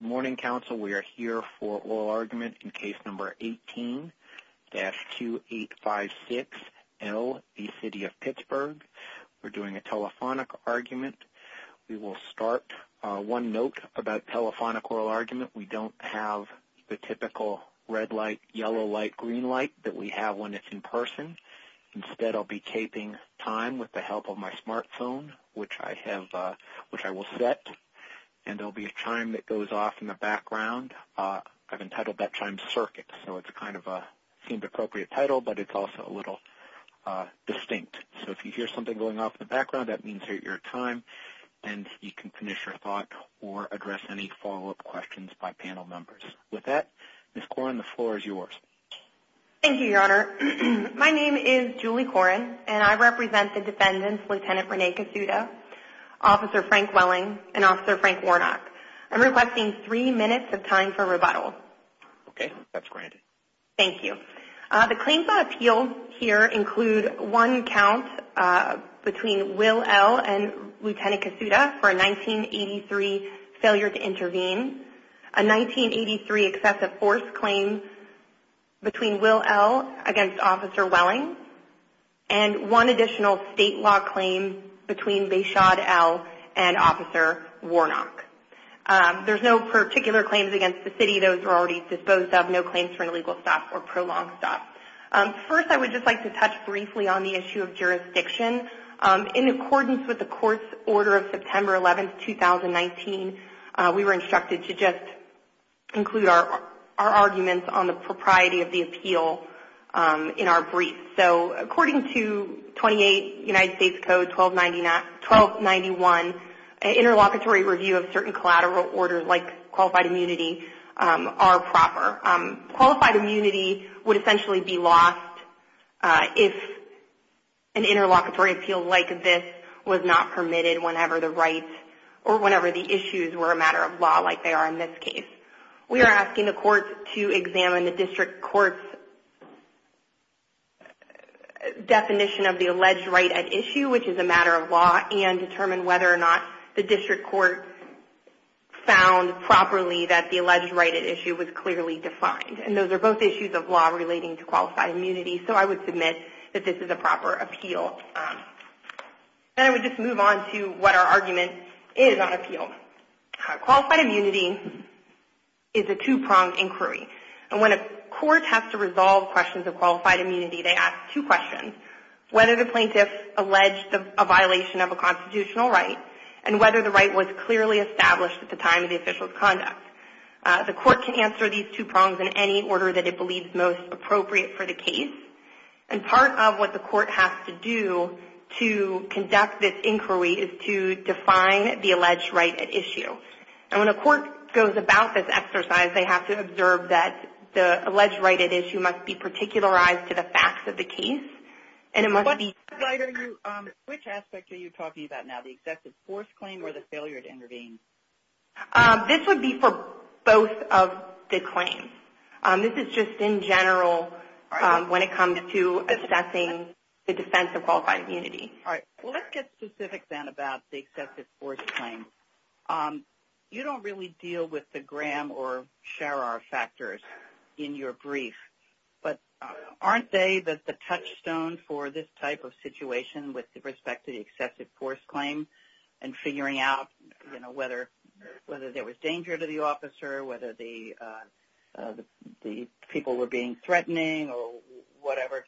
Morning Council, we are here for oral argument in case number 18-2856L v. City of Pittsburgh. We're doing a telephonic argument. We will start one note about telephonic oral argument. We don't have the typical red light, yellow light, green light that we have when it's in person. Instead, I'll be taping time with the help of my smartphone, which I will set, and there will be a chime that goes off in the background. I've entitled that chime circuit, so it's kind of a seemed appropriate title, but it's also a little distinct. So if you hear something going off in the background, that means you're at your time, and you can finish your thought or address any follow-up questions by panel members. With that, Ms. Koren, the floor is yours. Thank you, Your Honor. My name is Julie Koren, and I represent the defendants, Lt. Rene Casuda, Officer Frank Welling, and Officer Frank Warnock. I'm requesting three minutes of time for rebuttal. Okay. That's granted. Thank you. The claims I appeal here include one count between Will L. and Lt. Casuda for a 1983 failure to intervene, a 1983 excessive force claim between Will L. against Officer Welling, and one additional state law claim between Bashad L. and Officer Warnock. There's no particular claims against the city. Those are already disposed of. No claims for an illegal stop or prolonged stop. First, I would just like to touch briefly on the issue of jurisdiction. In accordance with the court's order of September 11, 2019, we were instructed to just include our arguments on the propriety of the appeal in our brief. According to 28 United States Code 1291, interlocutory review of certain collateral orders, like qualified immunity, are proper. Qualified immunity would essentially be lost if an interlocutory appeal like this was not permitted whenever the rights or whenever the issues were a matter of law like they are in this case. We are asking the courts to examine the district court's definition of the alleged right at issue, which is a matter of law, and determine whether or not the district court found properly that the alleged right at issue was clearly defined. Those are both issues of law relating to qualified immunity. I would submit that this is a proper appeal. I would just move on to what our argument is on appeal. Qualified immunity is a two-pronged inquiry. When a court has to resolve questions of qualified immunity, they ask two questions. Whether the plaintiff alleged a violation of a constitutional right, and whether the right was clearly established at the time of the official's conduct. The court can answer these two prongs in any order that it believes most appropriate for the case. Part of what the court has to do to conduct this inquiry is to define the alleged right at issue. When a court goes about this exercise, they have to observe that the alleged right at issue must be particularized to the facts of the case. Which aspect are you talking about now, the excessive force claim or the failure to intervene? This would be for both of the claims. This is just in general when it comes to assessing the defense of qualified immunity. Let's get specific then about the excessive force claim. You don't really deal with the Graham or Sharar factors in your brief. But aren't they the touchstone for this type of situation with respect to the excessive force claim? And figuring out whether there was danger to the officer, whether the people were being threatening or whatever.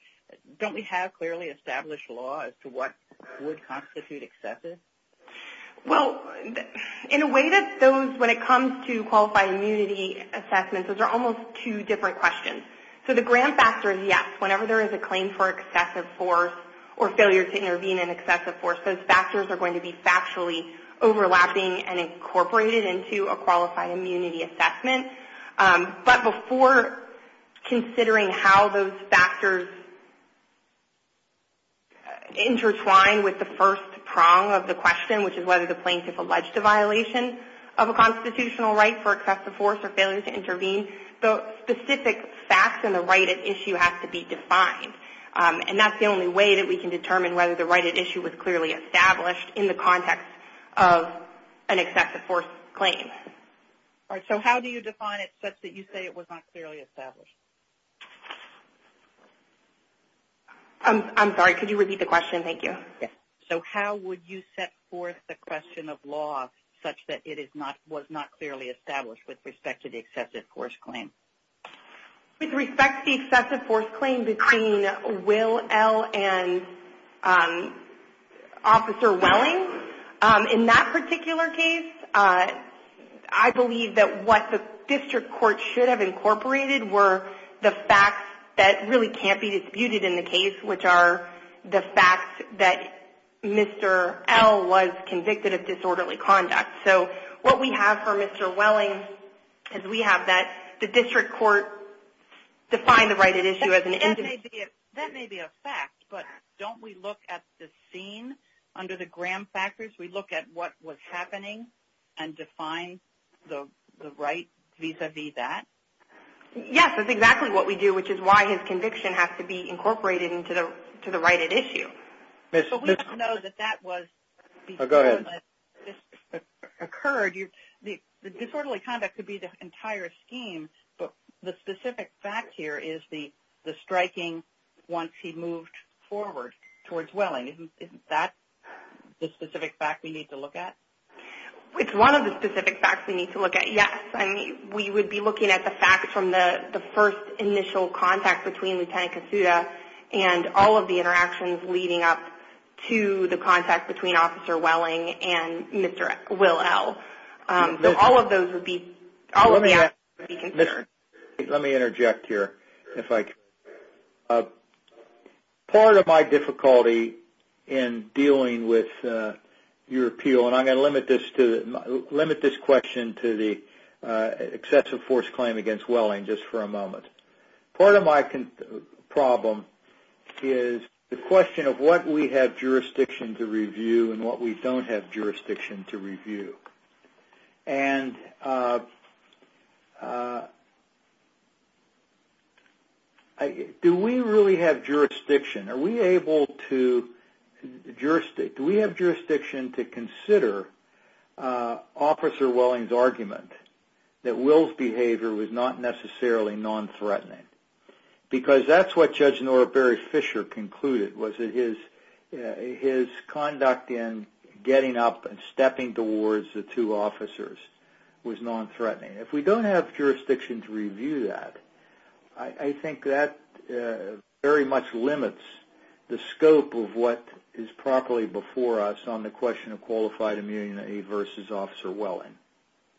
Don't we have clearly established law as to what would constitute excessive? In a way, when it comes to qualified immunity assessments, those are almost two different questions. The Graham factor is yes. Whenever there is a claim for excessive force or failure to intervene in excessive force, those factors are going to be factually overlapping and incorporated into a qualified immunity assessment. But before considering how those factors intertwine with the first prong of the question, which is whether the plaintiff alleged a violation of a constitutional right for excessive force or failure to intervene, the specific facts and the right at issue have to be defined. And that's the only way that we can determine whether the right at issue was clearly established in the context of an excessive force claim. All right. So how do you define it such that you say it was not clearly established? I'm sorry. Could you repeat the question? Thank you. So how would you set forth the question of law such that it was not clearly established with respect to the excessive force claim? With respect to the excessive force claim between Will L. and Officer Welling, in that particular case, I believe that what the district court should have incorporated were the facts that really can't be disputed in the case, which are the facts that Mr. L. was convicted of disorderly conduct. So what we have for Mr. Welling is we have that the district court defined the right at issue as an individual. That may be a fact, but don't we look at the scene under the Graham factors? We look at what was happening and define the right vis-à-vis that? Yes, that's exactly what we do, which is why his conviction has to be incorporated into the right at issue. But we don't know that that was before this occurred. The disorderly conduct could be the entire scheme, but the specific fact here is the striking once he moved forward towards Welling. Isn't that the specific fact we need to look at? It's one of the specific facts we need to look at, yes. We would be looking at the facts from the first initial contact between Lieutenant Kasuda and all of the interactions leading up to the contact between Officer Welling and Mr. Will L. All of those would be considered. Let me interject here. Part of my difficulty in dealing with your appeal, and I'm going to limit this question to the excessive force claim against Welling just for a moment. Part of my problem is the question of what we have jurisdiction to review and what we don't have jurisdiction to review. Do we really have jurisdiction? Do we have jurisdiction to consider Officer Welling's argument that Will's behavior was not necessarily non-threatening? Because that's what Judge Norbert Fisher concluded, was that his conduct in getting up and stepping towards the two officers was non-threatening. If we don't have jurisdiction to review that, I think that very much limits the scope of what is properly before us on the question of qualified immunity versus Officer Welling.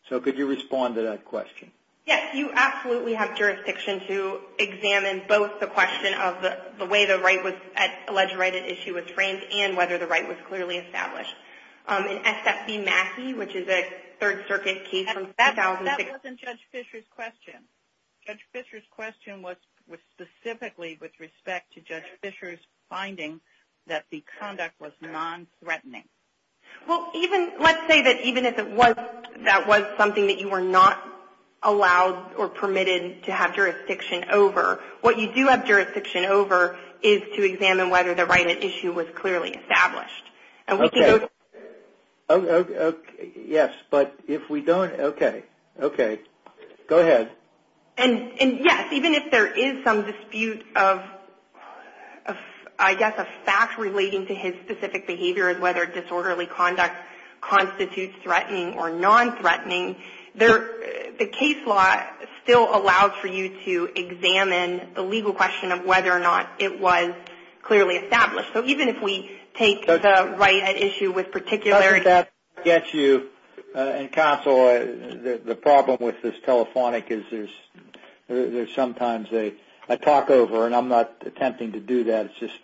Could you respond to that question? Yes, you absolutely have jurisdiction to examine both the question of the way the right was – alleged right at issue was framed and whether the right was clearly established. In S.F.B. Mackey, which is a Third Circuit case from 2006 – That wasn't Judge Fisher's question. Judge Fisher's question was specifically with respect to Judge Fisher's finding that the conduct was non-threatening. Let's say that even if that was something that you were not allowed or permitted to have jurisdiction over, what you do have jurisdiction over is to examine whether the right at issue was clearly established. Okay, yes, but if we don't – okay, okay, go ahead. And yes, even if there is some dispute of, I guess, a fact relating to his specific behavior and whether disorderly conduct constitutes threatening or non-threatening, the case law still allows for you to examine the legal question of whether or not it was clearly established. So even if we take the right at issue with particular – Doesn't that get you – and Counsel, the problem with this telephonic is there's sometimes a talk-over, and I'm not attempting to do that. It's just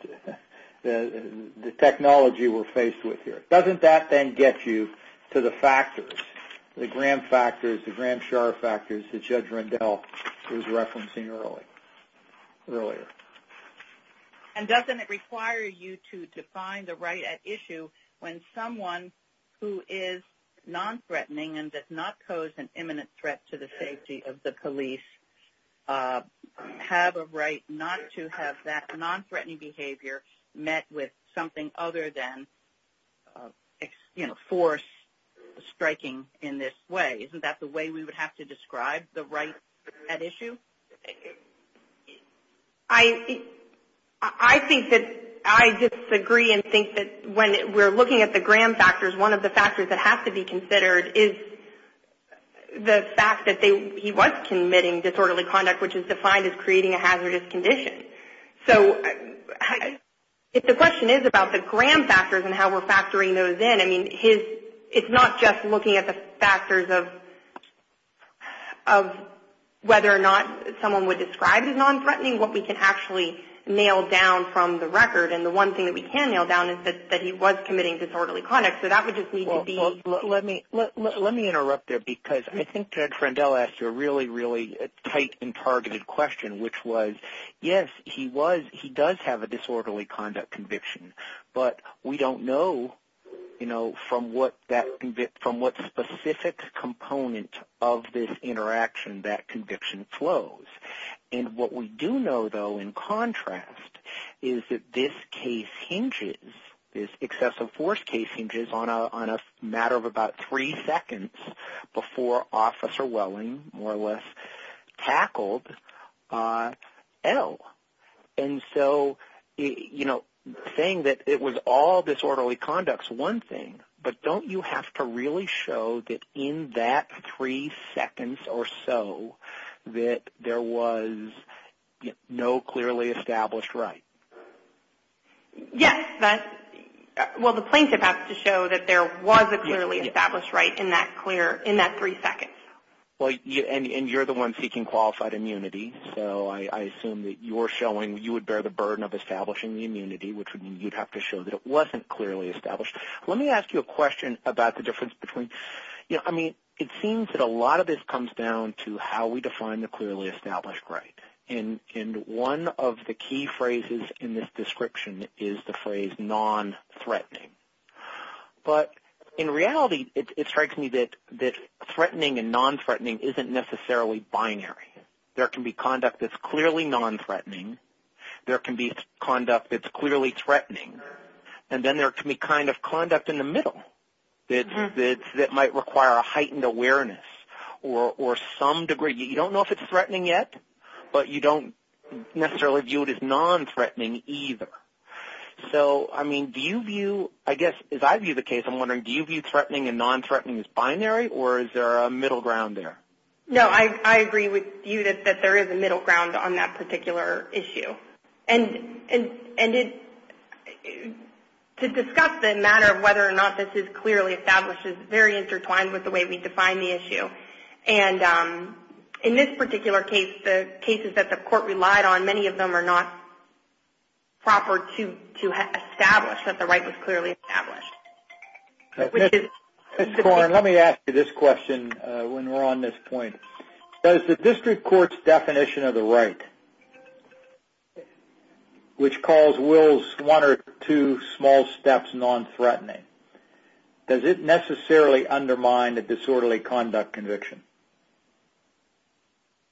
the technology we're faced with here. Doesn't that then get you to the factors, the Graham factors, the Graham-Schar factors, that Judge Rendell was referencing earlier? And doesn't it require you to define the right at issue when someone who is non-threatening and does not pose an imminent threat to the safety of the police have a right not to have that non-threatening behavior met with something other than, you know, force striking in this way? Isn't that the way we would have to describe the right at issue? I think that – I disagree and think that when we're looking at the Graham factors, one of the factors that has to be considered is the fact that he was committing disorderly conduct, which is defined as creating a hazardous condition. So if the question is about the Graham factors and how we're factoring those in, it's not just looking at the factors of whether or not someone would describe as non-threatening, what we can actually nail down from the record. And the one thing that we can nail down is that he was committing disorderly conduct. So that would just need to be – Well, let me interrupt there because I think Judge Rendell asked you a really, really tight and targeted question, which was, yes, he does have a disorderly conduct conviction, but we don't know, you know, from what specific component of this interaction that conviction flows. And what we do know, though, in contrast, is that this case hinges, this excessive force case hinges on a matter of about three seconds before Officer Welling more or less tackled L. And so, you know, saying that it was all disorderly conduct is one thing, but don't you have to really show that in that three seconds or so that there was no clearly established right? Yes. Well, the plaintiff has to show that there was a clearly established right in that three seconds. Well, and you're the one seeking qualified immunity, so I assume that you're showing you would bear the burden of establishing the immunity, which would mean you'd have to show that it wasn't clearly established. Let me ask you a question about the difference between – you know, I mean, it seems that a lot of this comes down to how we define the clearly established right. And one of the key phrases in this description is the phrase non-threatening. But in reality, it strikes me that threatening and non-threatening isn't necessarily binary. There can be conduct that's clearly non-threatening. There can be conduct that's clearly threatening. And then there can be kind of conduct in the middle that might require a heightened awareness or some degree. You don't know if it's threatening yet, but you don't necessarily view it as non-threatening either. So, I mean, do you view – I guess as I view the case, I'm wondering, do you view threatening and non-threatening as binary, or is there a middle ground there? No, I agree with you that there is a middle ground on that particular issue. And to discuss the matter of whether or not this is clearly established is very intertwined with the way we define the issue. And in this particular case, the cases that the court relied on, many of them are not proper to establish that the right was clearly established. Ms. Corn, let me ask you this question when we're on this point. Does the district court's definition of the right, which calls Will's one or two small steps non-threatening, does it necessarily undermine the disorderly conduct conviction?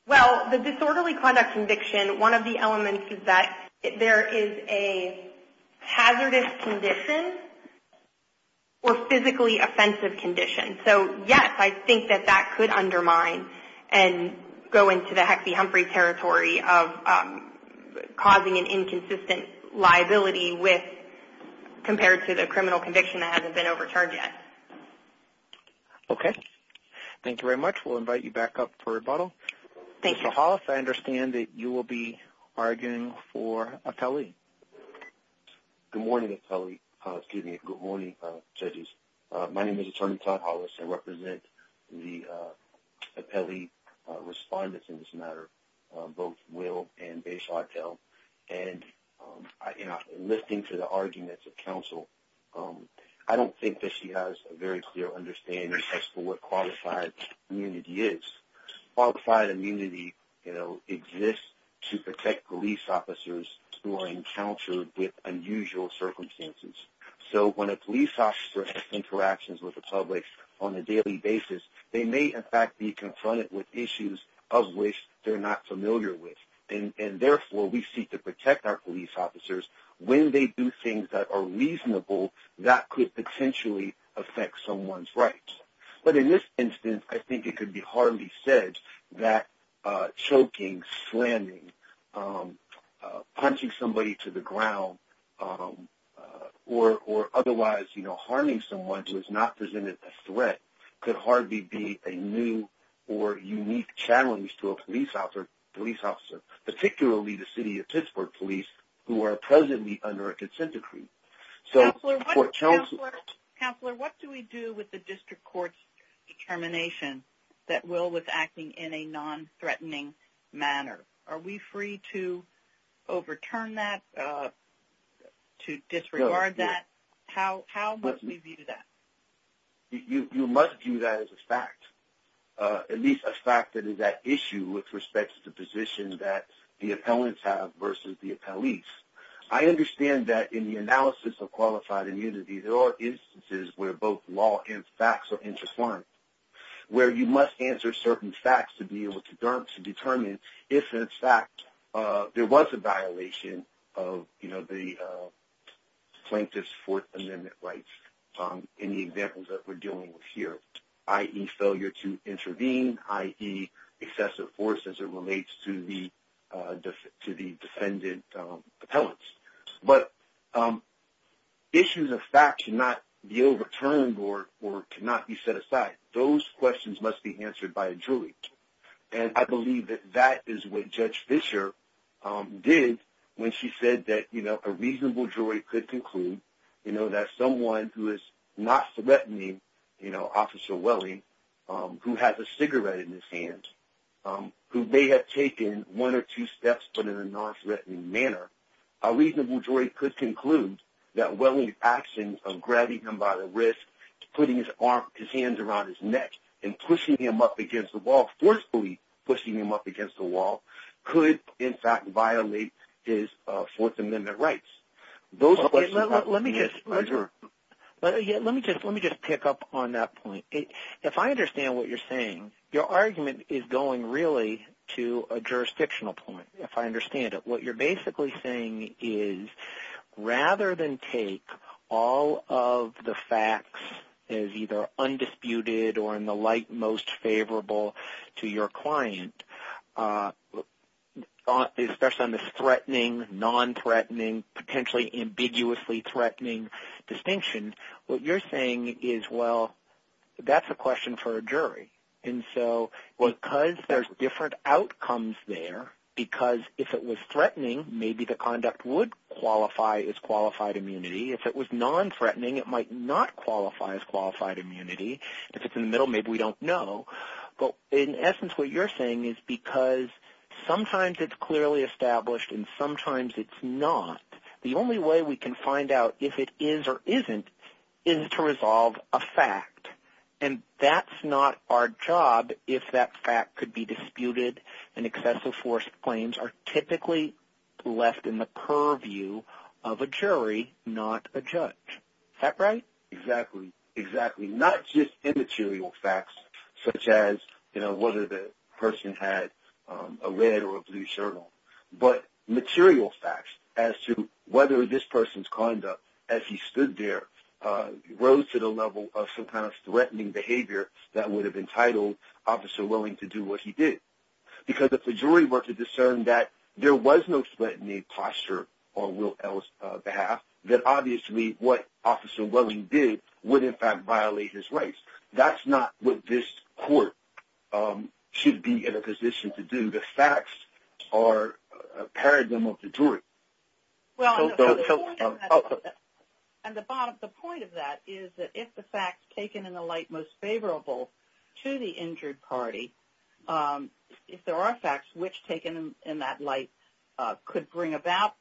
Well, the disorderly conduct conviction, one of the elements is that there is a hazardous condition or physically offensive condition. And so, yes, I think that that could undermine and go into the Hexie Humphrey territory of causing an inconsistent liability with – compared to the criminal conviction that hasn't been overcharged yet. Okay. Thank you very much. We'll invite you back up for rebuttal. Thank you. Mr. Hollis, I understand that you will be arguing for a tally. Good morning, judges. My name is Attorney Todd Hollis. I represent the appellee respondents in this matter, both Will and Beyshotel. And, you know, listening to the arguments of counsel, I don't think that she has a very clear understanding as to what qualified immunity is. Qualified immunity, you know, exists to protect police officers who are encountered with unusual circumstances. So when a police officer has interactions with the public on a daily basis, they may, in fact, be confronted with issues of which they're not familiar with. And, therefore, we seek to protect our police officers when they do things that are reasonable that could potentially affect someone's rights. But in this instance, I think it could be hardly said that choking, slamming, punching somebody to the ground, or otherwise, you know, harming someone who has not presented a threat could hardly be a new or unique challenge to a police officer, particularly the city of Pittsburgh police who are presently under a consent decree. Counselor, what do we do with the district court's determination that Will was acting in a non-threatening manner? Are we free to overturn that, to disregard that? How must we view that? You must view that as a fact, at least a fact that is at issue with respect to the position that the appellants have versus the appellees. I understand that in the analysis of qualified immunity, there are instances where both law and facts are intertwined, where you must answer certain facts to be able to determine if, in fact, there was a violation of, you know, the plaintiff's Fourth Amendment rights in the examples that we're dealing with here, i.e., failure to intervene, i.e., excessive force as it relates to the defendant appellants. But issues of fact should not be overturned or cannot be set aside. Those questions must be answered by a jury. And I believe that that is what Judge Fischer did when she said that, you know, a reasonable jury could conclude, you know, that someone who is non-threatening, you know, Officer Welling, who has a cigarette in his hand, who may have taken one or two steps but in a non-threatening manner, a reasonable jury could conclude that Welling's actions of grabbing him by the wrist, putting his arm, his hands around his neck, and pushing him up against the wall, forcefully pushing him up against the wall, could, in fact, violate his Fourth Amendment rights. Those questions must be answered. Let me just pick up on that point. If I understand what you're saying, your argument is going really to a jurisdictional point, if I understand it. What you're basically saying is rather than take all of the facts as either undisputed or in the light most favorable to your client, especially on this threatening, non-threatening, potentially ambiguously threatening distinction, what you're saying is, well, that's a question for a jury. And so because there's different outcomes there, because if it was threatening, maybe the conduct would qualify as qualified immunity. If it was non-threatening, it might not qualify as qualified immunity. If it's in the middle, maybe we don't know. But in essence, what you're saying is because sometimes it's clearly established and sometimes it's not, the only way we can find out if it is or isn't is to resolve a fact. And that's not our job if that fact could be disputed and excessive force claims are typically left in the purview of a jury, not a judge. Is that right? Exactly. Exactly. Not just immaterial facts such as whether the person had a red or a blue shirt on, but material facts as to whether this person's conduct as he stood there rose to the level of some kind of Because if the jury were to discern that there was no threatening posture on Will L's behalf, then obviously what Officer Welling did would in fact violate his rights. That's not what this court should be in a position to do. The facts are a paradigm of the jury. Well, the point of that is that if the facts taken in the light most favorable to the injured party, if there are facts which taken in that light could bring about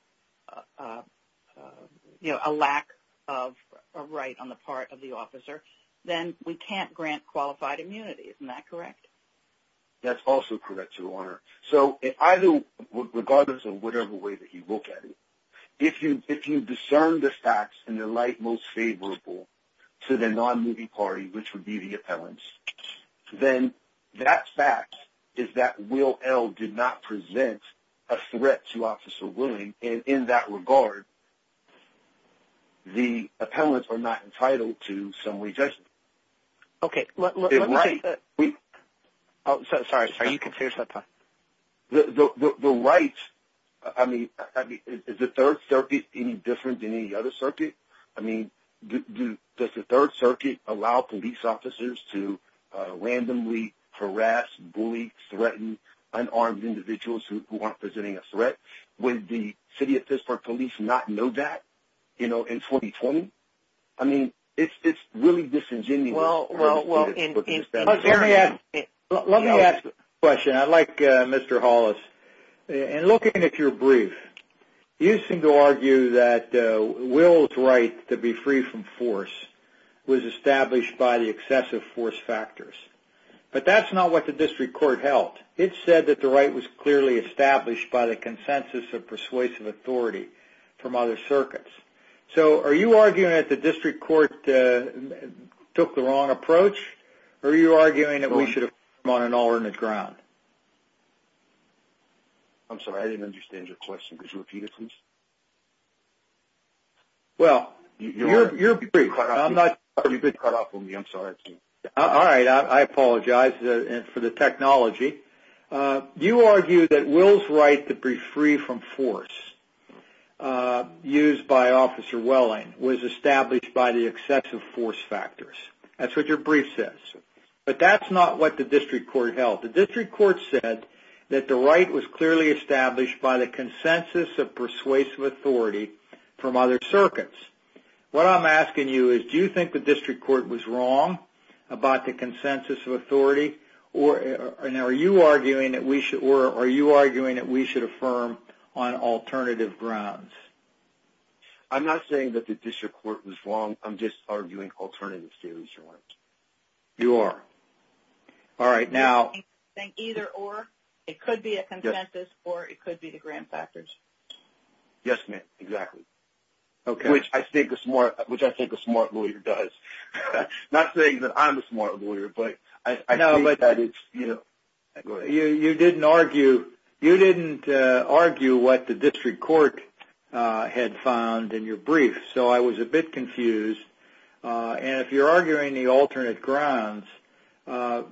a lack of right on the part of the officer, then we can't grant qualified immunity. Isn't that correct? That's also correct, Your Honor. So regardless of whatever way that you look at it, if you discern the facts in the light most favorable to the non-moving party, which would be the appellants, then that fact is that Will L did not present a threat to Officer Welling, and in that regard the appellants are not entitled to some way of judgment. Okay. Sorry, are you confused? The rights, I mean, is the Third Circuit any different than any other circuit? I mean, does the Third Circuit allow police officers to randomly harass, bully, threaten unarmed individuals who aren't presenting a threat? Would the City of Pittsburgh police not know that in 2020? I mean, it's really disingenuous. Well, let me ask a question. I'd like, Mr. Hollis, in looking at your brief, you seem to argue that Will's right to be free from force was established by the excessive force factors. But that's not what the district court held. It said that the right was clearly established by the consensus of persuasive authority from other circuits. So are you arguing that the district court took the wrong approach, or are you arguing that we should affirm on an alternate ground? I'm sorry, I didn't understand your question. Could you repeat it, please? Well, your brief. You've been cut off from me. I'm sorry. All right, I apologize for the technology. You argue that Will's right to be free from force, used by Officer Welling, was established by the excessive force factors. That's what your brief says. But that's not what the district court held. The district court said that the right was clearly established by the consensus of persuasive authority from other circuits. What I'm asking you is, do you think the district court was wrong about the consensus of authority? Now, are you arguing that we should affirm on alternative grounds? I'm not saying that the district court was wrong. I'm just arguing alternative theories. You are. All right, now. I think either or. It could be a consensus or it could be the grant factors. Yes, ma'am, exactly. Okay. Which I think a smart lawyer does. Not saying that I'm a smart lawyer, but I think that it's, you know. You didn't argue what the district court had found in your brief, so I was a bit confused. And if you're arguing the alternate grounds, why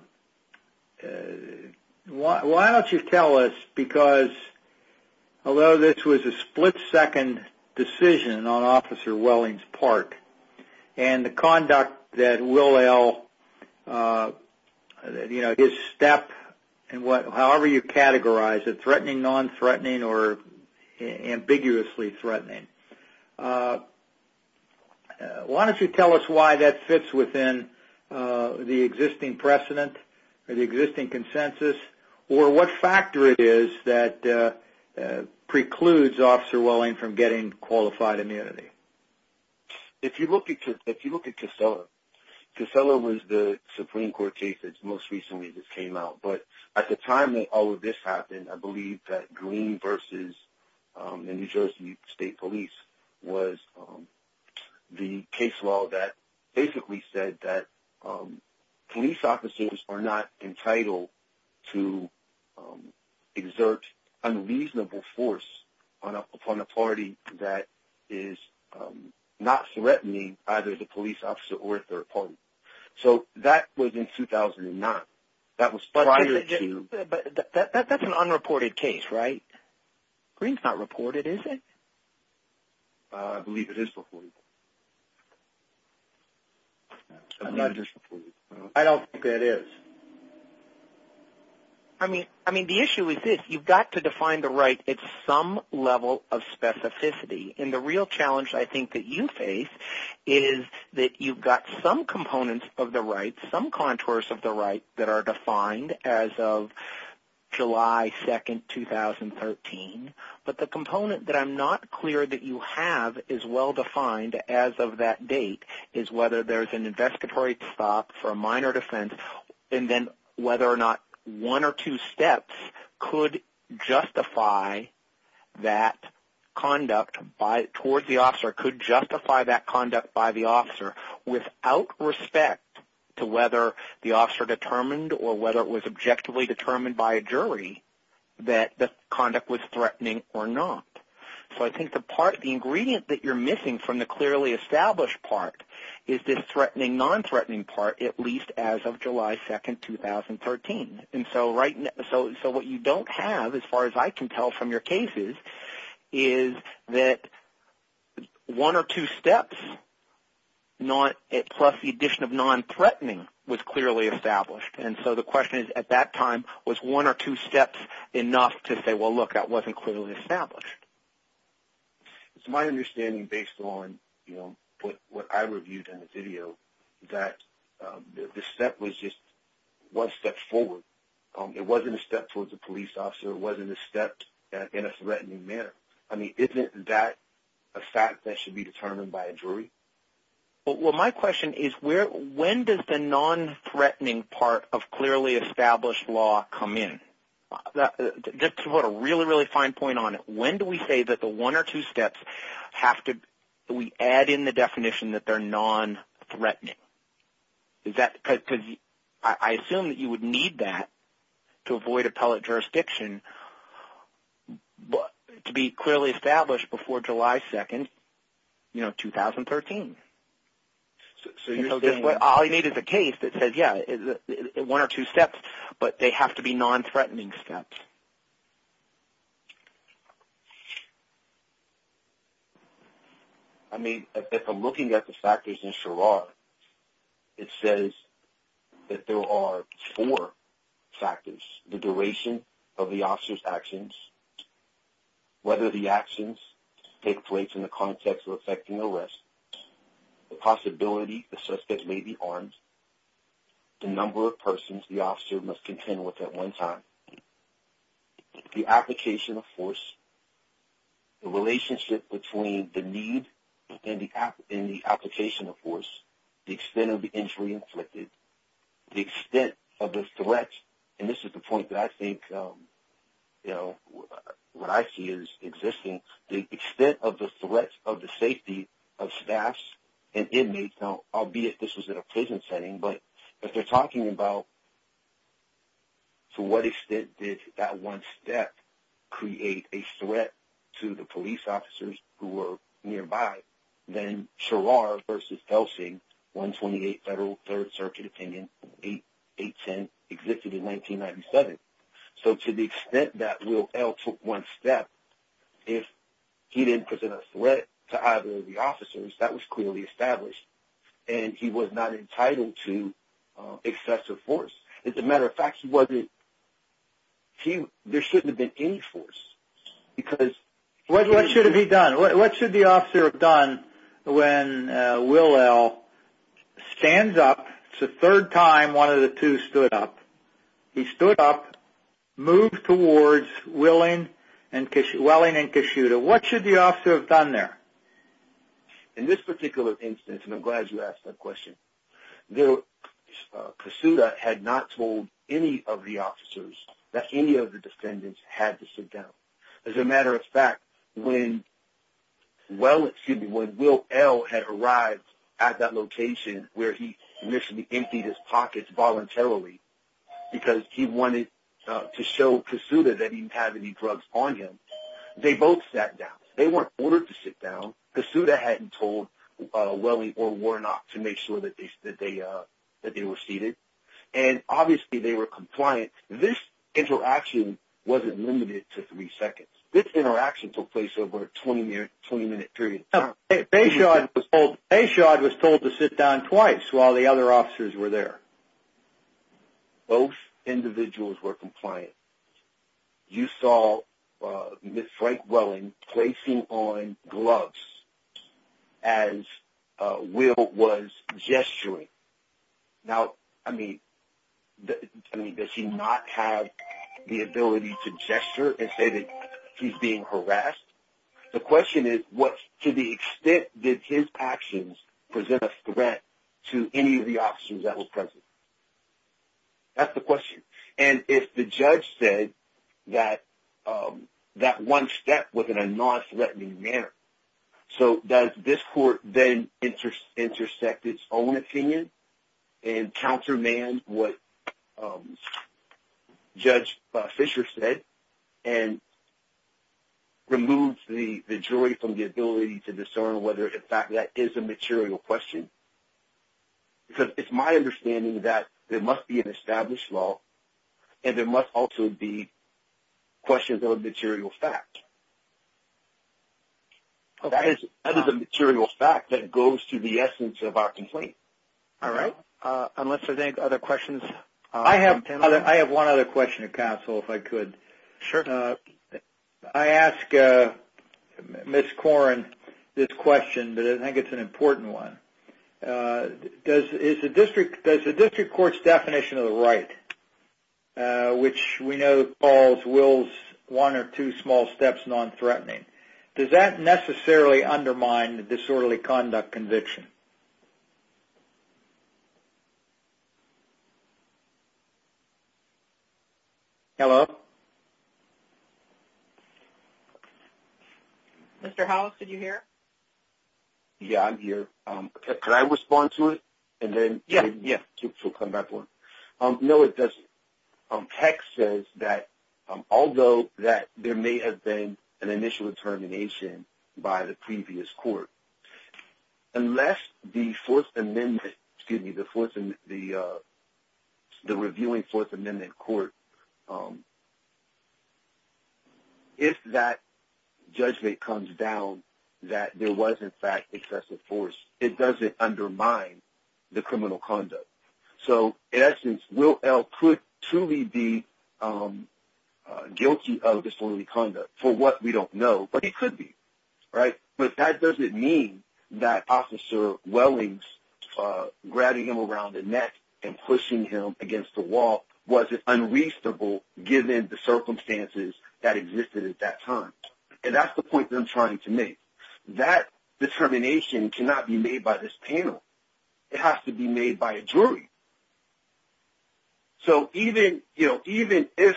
don't you tell us, because although this was a split-second decision on Officer Welling's part and the conduct that Will L., you know, his step, however you categorize it, threatening, non-threatening, or ambiguously threatening, why don't you tell us why that fits within the existing precedent or the existing consensus or what factor it is that precludes Officer Welling from getting qualified amenity? If you look at Casella, Casella was the Supreme Court case that most recently just came out. But at the time that all of this happened, I believe that Green versus the New Jersey State Police was the case law that basically said that police officers are not entitled to exert unreasonable force upon a party that is not threatening either the police officer or a third party. So that was in 2009. That was prior to – But that's an unreported case, right? Green's not reported, is it? I believe it is reported. I don't think it is. I mean, the issue is this. You've got to define the right at some level of specificity. And the real challenge I think that you face is that you've got some components of the right, some contours of the right that are defined as of July 2, 2013. But the component that I'm not clear that you have is well-defined as of that date, is whether there's an investigatory stop for a minor defense, and then whether or not one or two steps could justify that conduct towards the officer, could justify that conduct by the officer without respect to whether the officer determined or whether it was objectively determined by a jury that the conduct was threatening or not. So I think the ingredient that you're missing from the clearly established part is this threatening, non-threatening part, at least as of July 2, 2013. And so what you don't have, as far as I can tell from your cases, is that one or two steps plus the addition of non-threatening was clearly established. And so the question is, at that time, was one or two steps enough to say, well, look, that wasn't clearly established? It's my understanding, based on what I reviewed in the video, that the step was just one step forward. It wasn't a step towards a police officer. It wasn't a step in a threatening manner. I mean, isn't that a fact that should be determined by a jury? Well, my question is, when does the non-threatening part of clearly established law come in? Just to put a really, really fine point on it, when do we say that the one or two steps have to be added in the definition that they're non-threatening? Because I assume that you would need that to avoid appellate jurisdiction to be clearly established before July 2, 2013. So all you need is a case that says, yeah, one or two steps, but they have to be non-threatening steps. I mean, if I'm looking at the factors in Sherrard, it says that there are four factors. The duration of the officer's actions, whether the actions take place in the context of effecting arrest, the possibility the suspect may be armed, the number of persons the officer must contend with at one time, the application of force, the relationship between the need and the application of force, the extent of the injury inflicted, the extent of the threat, and this is the point that I think what I see as existing, the extent of the threat of the safety of staffs and inmates, albeit this was in a prison setting, but if they're talking about to what extent did that one step create a threat to the police officers who were nearby, then Sherrard versus Helsing, 128 Federal Third Circuit Opinion, 810, existed in 1997. So to the extent that Will L. took one step, if he didn't present a threat to either of the officers, that was clearly established, and he was not entitled to excessive force. As a matter of fact, there shouldn't have been any force. What should have he done? What should the officer have done when Will L. stands up? It's the third time one of the two stood up. He stood up, moved towards Welling and Kasuda. What should the officer have done there? In this particular instance, and I'm glad you asked that question, Kasuda had not told any of the officers that any of the defendants had to sit down. As a matter of fact, when Will L. had arrived at that location where he initially emptied his pockets voluntarily because he wanted to show Kasuda that he didn't have any drugs on him, they both sat down. They weren't ordered to sit down. Kasuda hadn't told Welling or Warnock to make sure that they were seated, and obviously they were compliant. This interaction wasn't limited to three seconds. This interaction took place over a 20-minute period of time. Bayshod was told to sit down twice while the other officers were there. Both individuals were compliant. You saw Frank Welling placing on gloves as Will was gesturing. Now, I mean, does he not have the ability to gesture and say that he's being harassed? The question is, to the extent did his actions present a threat to any of the officers that were present? That's the question. And if the judge said that that one step was in a nonthreatening manner, so does this court then intersect its own opinion and countermand what Judge Fisher said and remove the jury from the ability to discern whether, in fact, that is a material question? Because it's my understanding that there must be an established law and there must also be questions of a material fact. That is a material fact that goes to the essence of our complaint. All right. Unless there's any other questions? I have one other question, counsel, if I could. Sure. I asked Ms. Koren this question, but I think it's an important one. Does the district court's definition of the right, which we know calls Will's one or two small steps nonthreatening, does that necessarily undermine the disorderly conduct conviction? Hello? Mr. Hollis, did you hear? Yeah, I'm here. Could I respond to it? Yeah. No, it doesn't. Keck says that although there may have been an initial determination by the previous court, unless the fourth amendment, excuse me, the reviewing fourth amendment court, if that judgment comes down that there was, in fact, excessive force, it doesn't undermine the criminal conduct. So, in essence, Will L. could truly be guilty of disorderly conduct, for what we don't know, but he could be, right? But that doesn't mean that Officer Wellings grabbing him around the neck and pushing him against the wall wasn't unreasonable, given the circumstances that existed at that time. And that's the point that I'm trying to make. That determination cannot be made by this panel. It has to be made by a jury. So, even if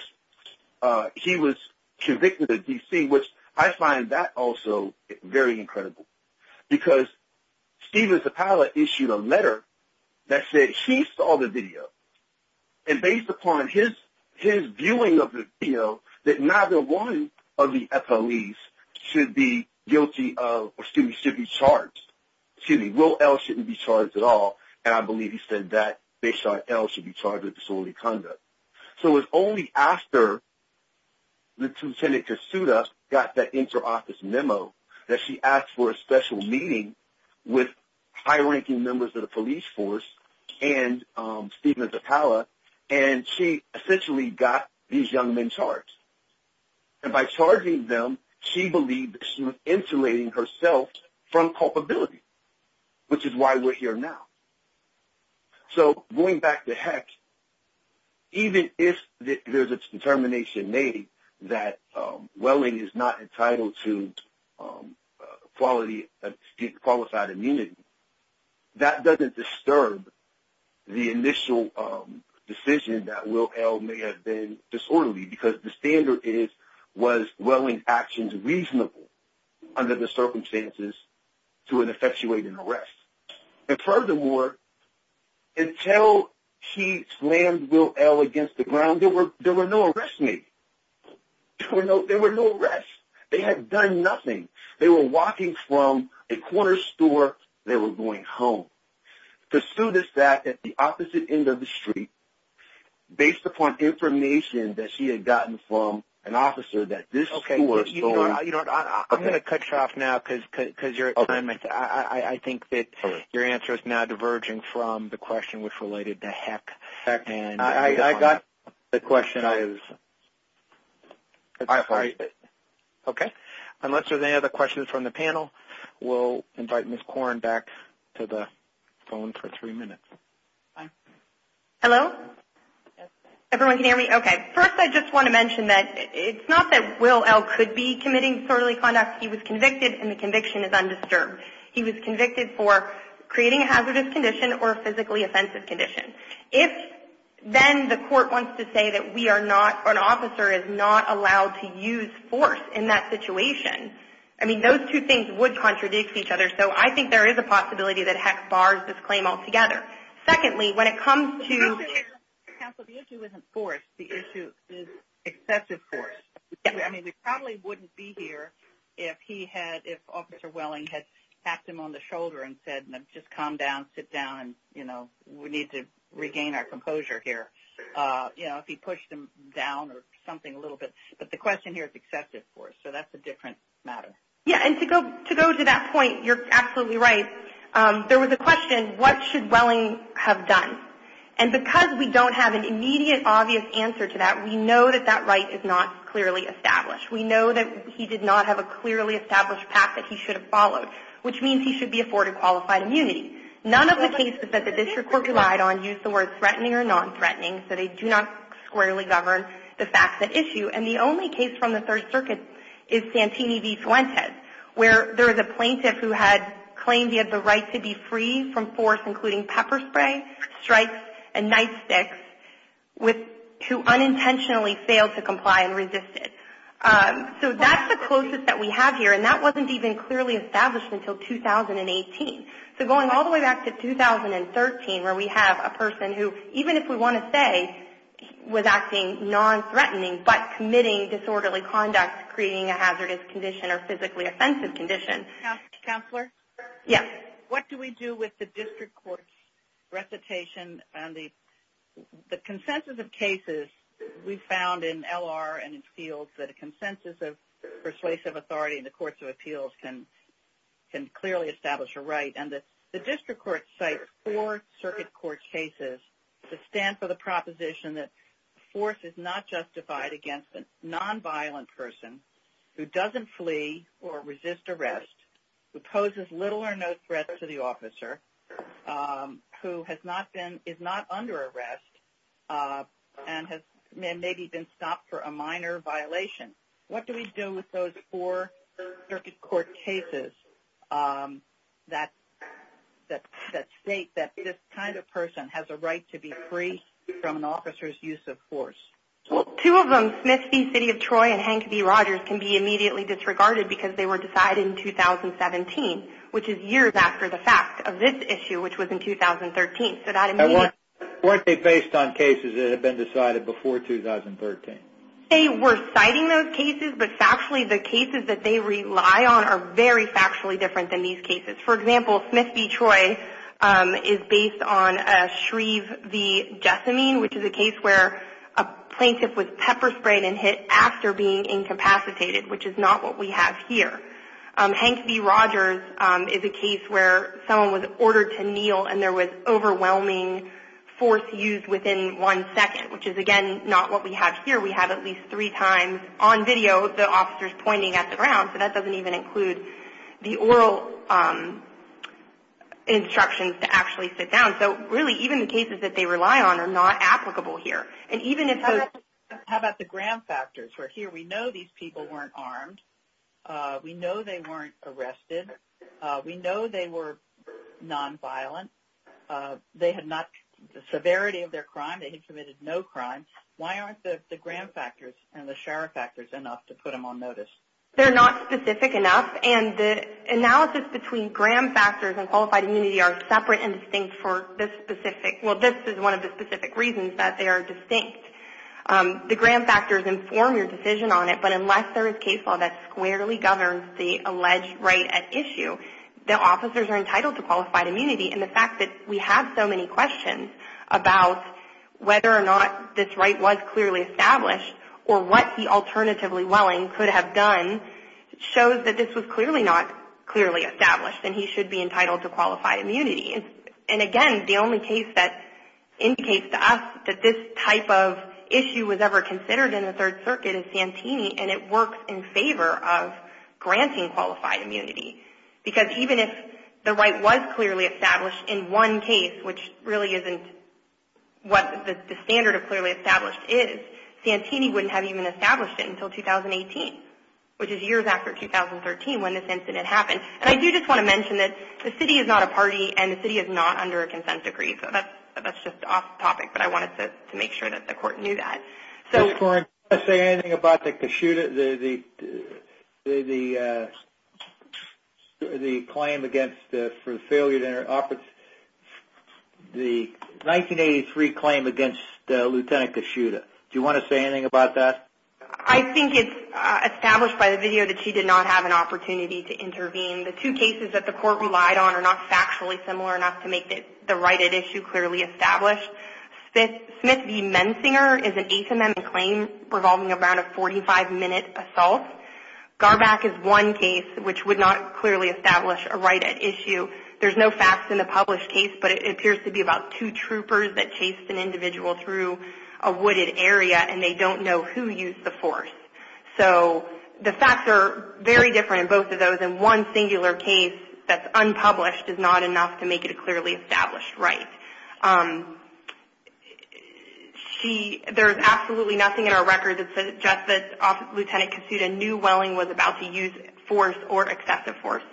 he was convicted of DC, which I find that also very incredible, because Steven Zapala issued a letter that said he saw the video, and based upon his viewing of the video, that neither one of the FOEs should be charged. Excuse me, Will L. shouldn't be charged at all, and I believe he said that based on L. should be charged with disorderly conduct. So, it was only after Lieutenant Kasuda got that inter-office memo that she asked for a special meeting with high-ranking members of the police force and Steven Zapala, and she essentially got these young men charged. And by charging them, she believed that she was insulating herself from culpability, which is why we're here now. So, going back to HECS, even if there's a determination made that Welling is not entitled to qualified immunity, that doesn't disturb the initial decision that Will L. may have been disorderly, because the standard is, was Welling's actions reasonable under the circumstances to an effectuating arrest? And furthermore, until he slammed Will L. against the ground, there were no arrests made. There were no arrests. They had done nothing. They were walking from a corner store. They were going home. Kasuda sat at the opposite end of the street, based upon information that she had gotten from an officer that this store sold. Okay, you know what? I'm going to cut you off now because you're at time. I think that your answer is now diverging from the question which related to HECS. I got the question. Unless there's any other questions from the panel, we'll invite Ms. Korn back to the phone for three minutes. Hello? Everyone can hear me? Okay. First, I just want to mention that it's not that Will L. could be committing disorderly conduct. He was convicted, and the conviction is undisturbed. He was convicted for creating a hazardous condition or a physically offensive condition. If then the court wants to say that we are not, or an officer is not allowed to use force in that situation, I mean, those two things would contradict each other, so I think there is a possibility that HECS bars this claim altogether. Secondly, when it comes to – Counsel, the issue isn't force. The issue is excessive force. I mean, we probably wouldn't be here if he had – if Officer Welling had tapped him on the shoulder and said, just calm down, sit down, and, you know, we need to regain our composure here. You know, if he pushed him down or something a little bit. But the question here is excessive force, so that's a different matter. Yeah, and to go to that point, you're absolutely right. There was a question, what should Welling have done? And because we don't have an immediate, obvious answer to that, we know that that right is not clearly established. We know that he did not have a clearly established path that he should have followed, which means he should be afforded qualified immunity. None of the cases that the district court relied on used the word threatening or non-threatening, so they do not squarely govern the facts at issue. And the only case from the Third Circuit is Santini v. Fuentes, where there is a plaintiff who had claimed he had the right to be free from force, including pepper spray, strikes, and nightsticks, who unintentionally failed to comply and resisted. So that's the closest that we have here, and that wasn't even clearly established until 2018. So going all the way back to 2013, where we have a person who, even if we want to say, was acting non-threatening but committing disorderly conduct, creating a hazardous condition or physically offensive condition. Counselor? Yes. What do we do with the district court's recitation and the consensus of cases we found in L.R. and in fields that a consensus of persuasive authority in the courts of appeals can clearly establish a right, and that the district court cites four circuit court cases to stand for the proposition that force is not justified against a non-violent person who doesn't flee or resist arrest, who poses little or no threat to the officer, who is not under arrest, and has maybe been stopped for a minor violation? What do we do with those four circuit court cases that state that this kind of person has a right to be free from an officer's use of force? Well, two of them, Smith v. City of Troy and Hank v. Rogers, can be immediately disregarded because they were decided in 2017, which is years after the fact of this issue, which was in 2013. And weren't they based on cases that had been decided before 2013? They were citing those cases, but factually the cases that they rely on are very factually different than these cases. For example, Smith v. Troy is based on Shreve v. Jessamine, which is a case where a plaintiff was pepper sprayed and hit after being incapacitated, which is not what we have here. Hank v. Rogers is a case where someone was ordered to kneel, and there was overwhelming force used within one second, which is, again, not what we have here. We have at least three times on video the officers pointing at the ground, so that doesn't even include the oral instructions to actually sit down. So really, even the cases that they rely on are not applicable here. How about the gram factors? Here we know these people weren't armed. We know they weren't arrested. We know they were nonviolent. They had not the severity of their crime. They had committed no crime. Why aren't the gram factors and the sheriff factors enough to put them on notice? They're not specific enough, and the analysis between gram factors and qualified immunity are separate and distinct for this specific – well, this is one of the specific reasons that they are distinct. The gram factors inform your decision on it, but unless there is case law that squarely governs the alleged right at issue, the officers are entitled to qualified immunity, and the fact that we have so many questions about whether or not this right was clearly established or what the alternatively willing could have done shows that this was clearly not clearly established and he should be entitled to qualified immunity. Again, the only case that indicates to us that this type of issue was ever considered in the Third Circuit is Santini, and it works in favor of granting qualified immunity, because even if the right was clearly established in one case, which really isn't what the standard of clearly established is, Santini wouldn't have even established it until 2018, which is years after 2013 when this incident happened. And I do just want to mention that the city is not a party, and the city is not under a consent decree, so that's just off topic, but I wanted to make sure that the court knew that. Do you want to say anything about the 1983 claim against Lieutenant Kishida? Do you want to say anything about that? I think it's established by the video that she did not have an opportunity to intervene. The two cases that the court relied on are not factually similar enough to make the right at issue clearly established. Smith v. Mensinger is an HMM claim revolving around a 45-minute assault. Garback is one case which would not clearly establish a right at issue. There's no facts in the published case, but it appears to be about two troopers that chased an individual through a wooded area, and they don't know who used the force. So the facts are very different in both of those, because in one singular case that's unpublished is not enough to make it a clearly established right. There's absolutely nothing in our record that suggests that Lieutenant Kishida knew Welling was about to use force or excessive force.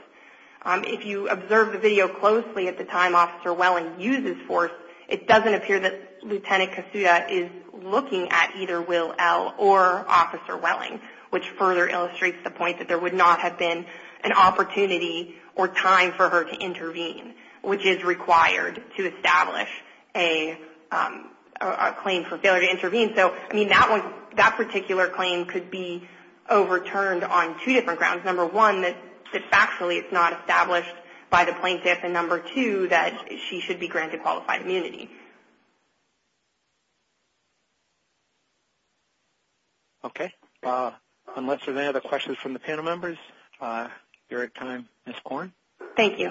If you observe the video closely at the time Officer Welling uses force, it doesn't appear that Lieutenant Kishida is looking at either Will L. or Officer Welling, which further illustrates the point that there would not have been an opportunity or time for her to intervene, which is required to establish a claim for failure to intervene. So that particular claim could be overturned on two different grounds. Number one, that factually it's not established by the plaintiff, and number two, that she should be granted qualified immunity. Okay. Unless there's any other questions from the panel members, you're at time, Ms. Korn. Thank you.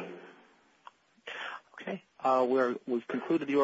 Thank you.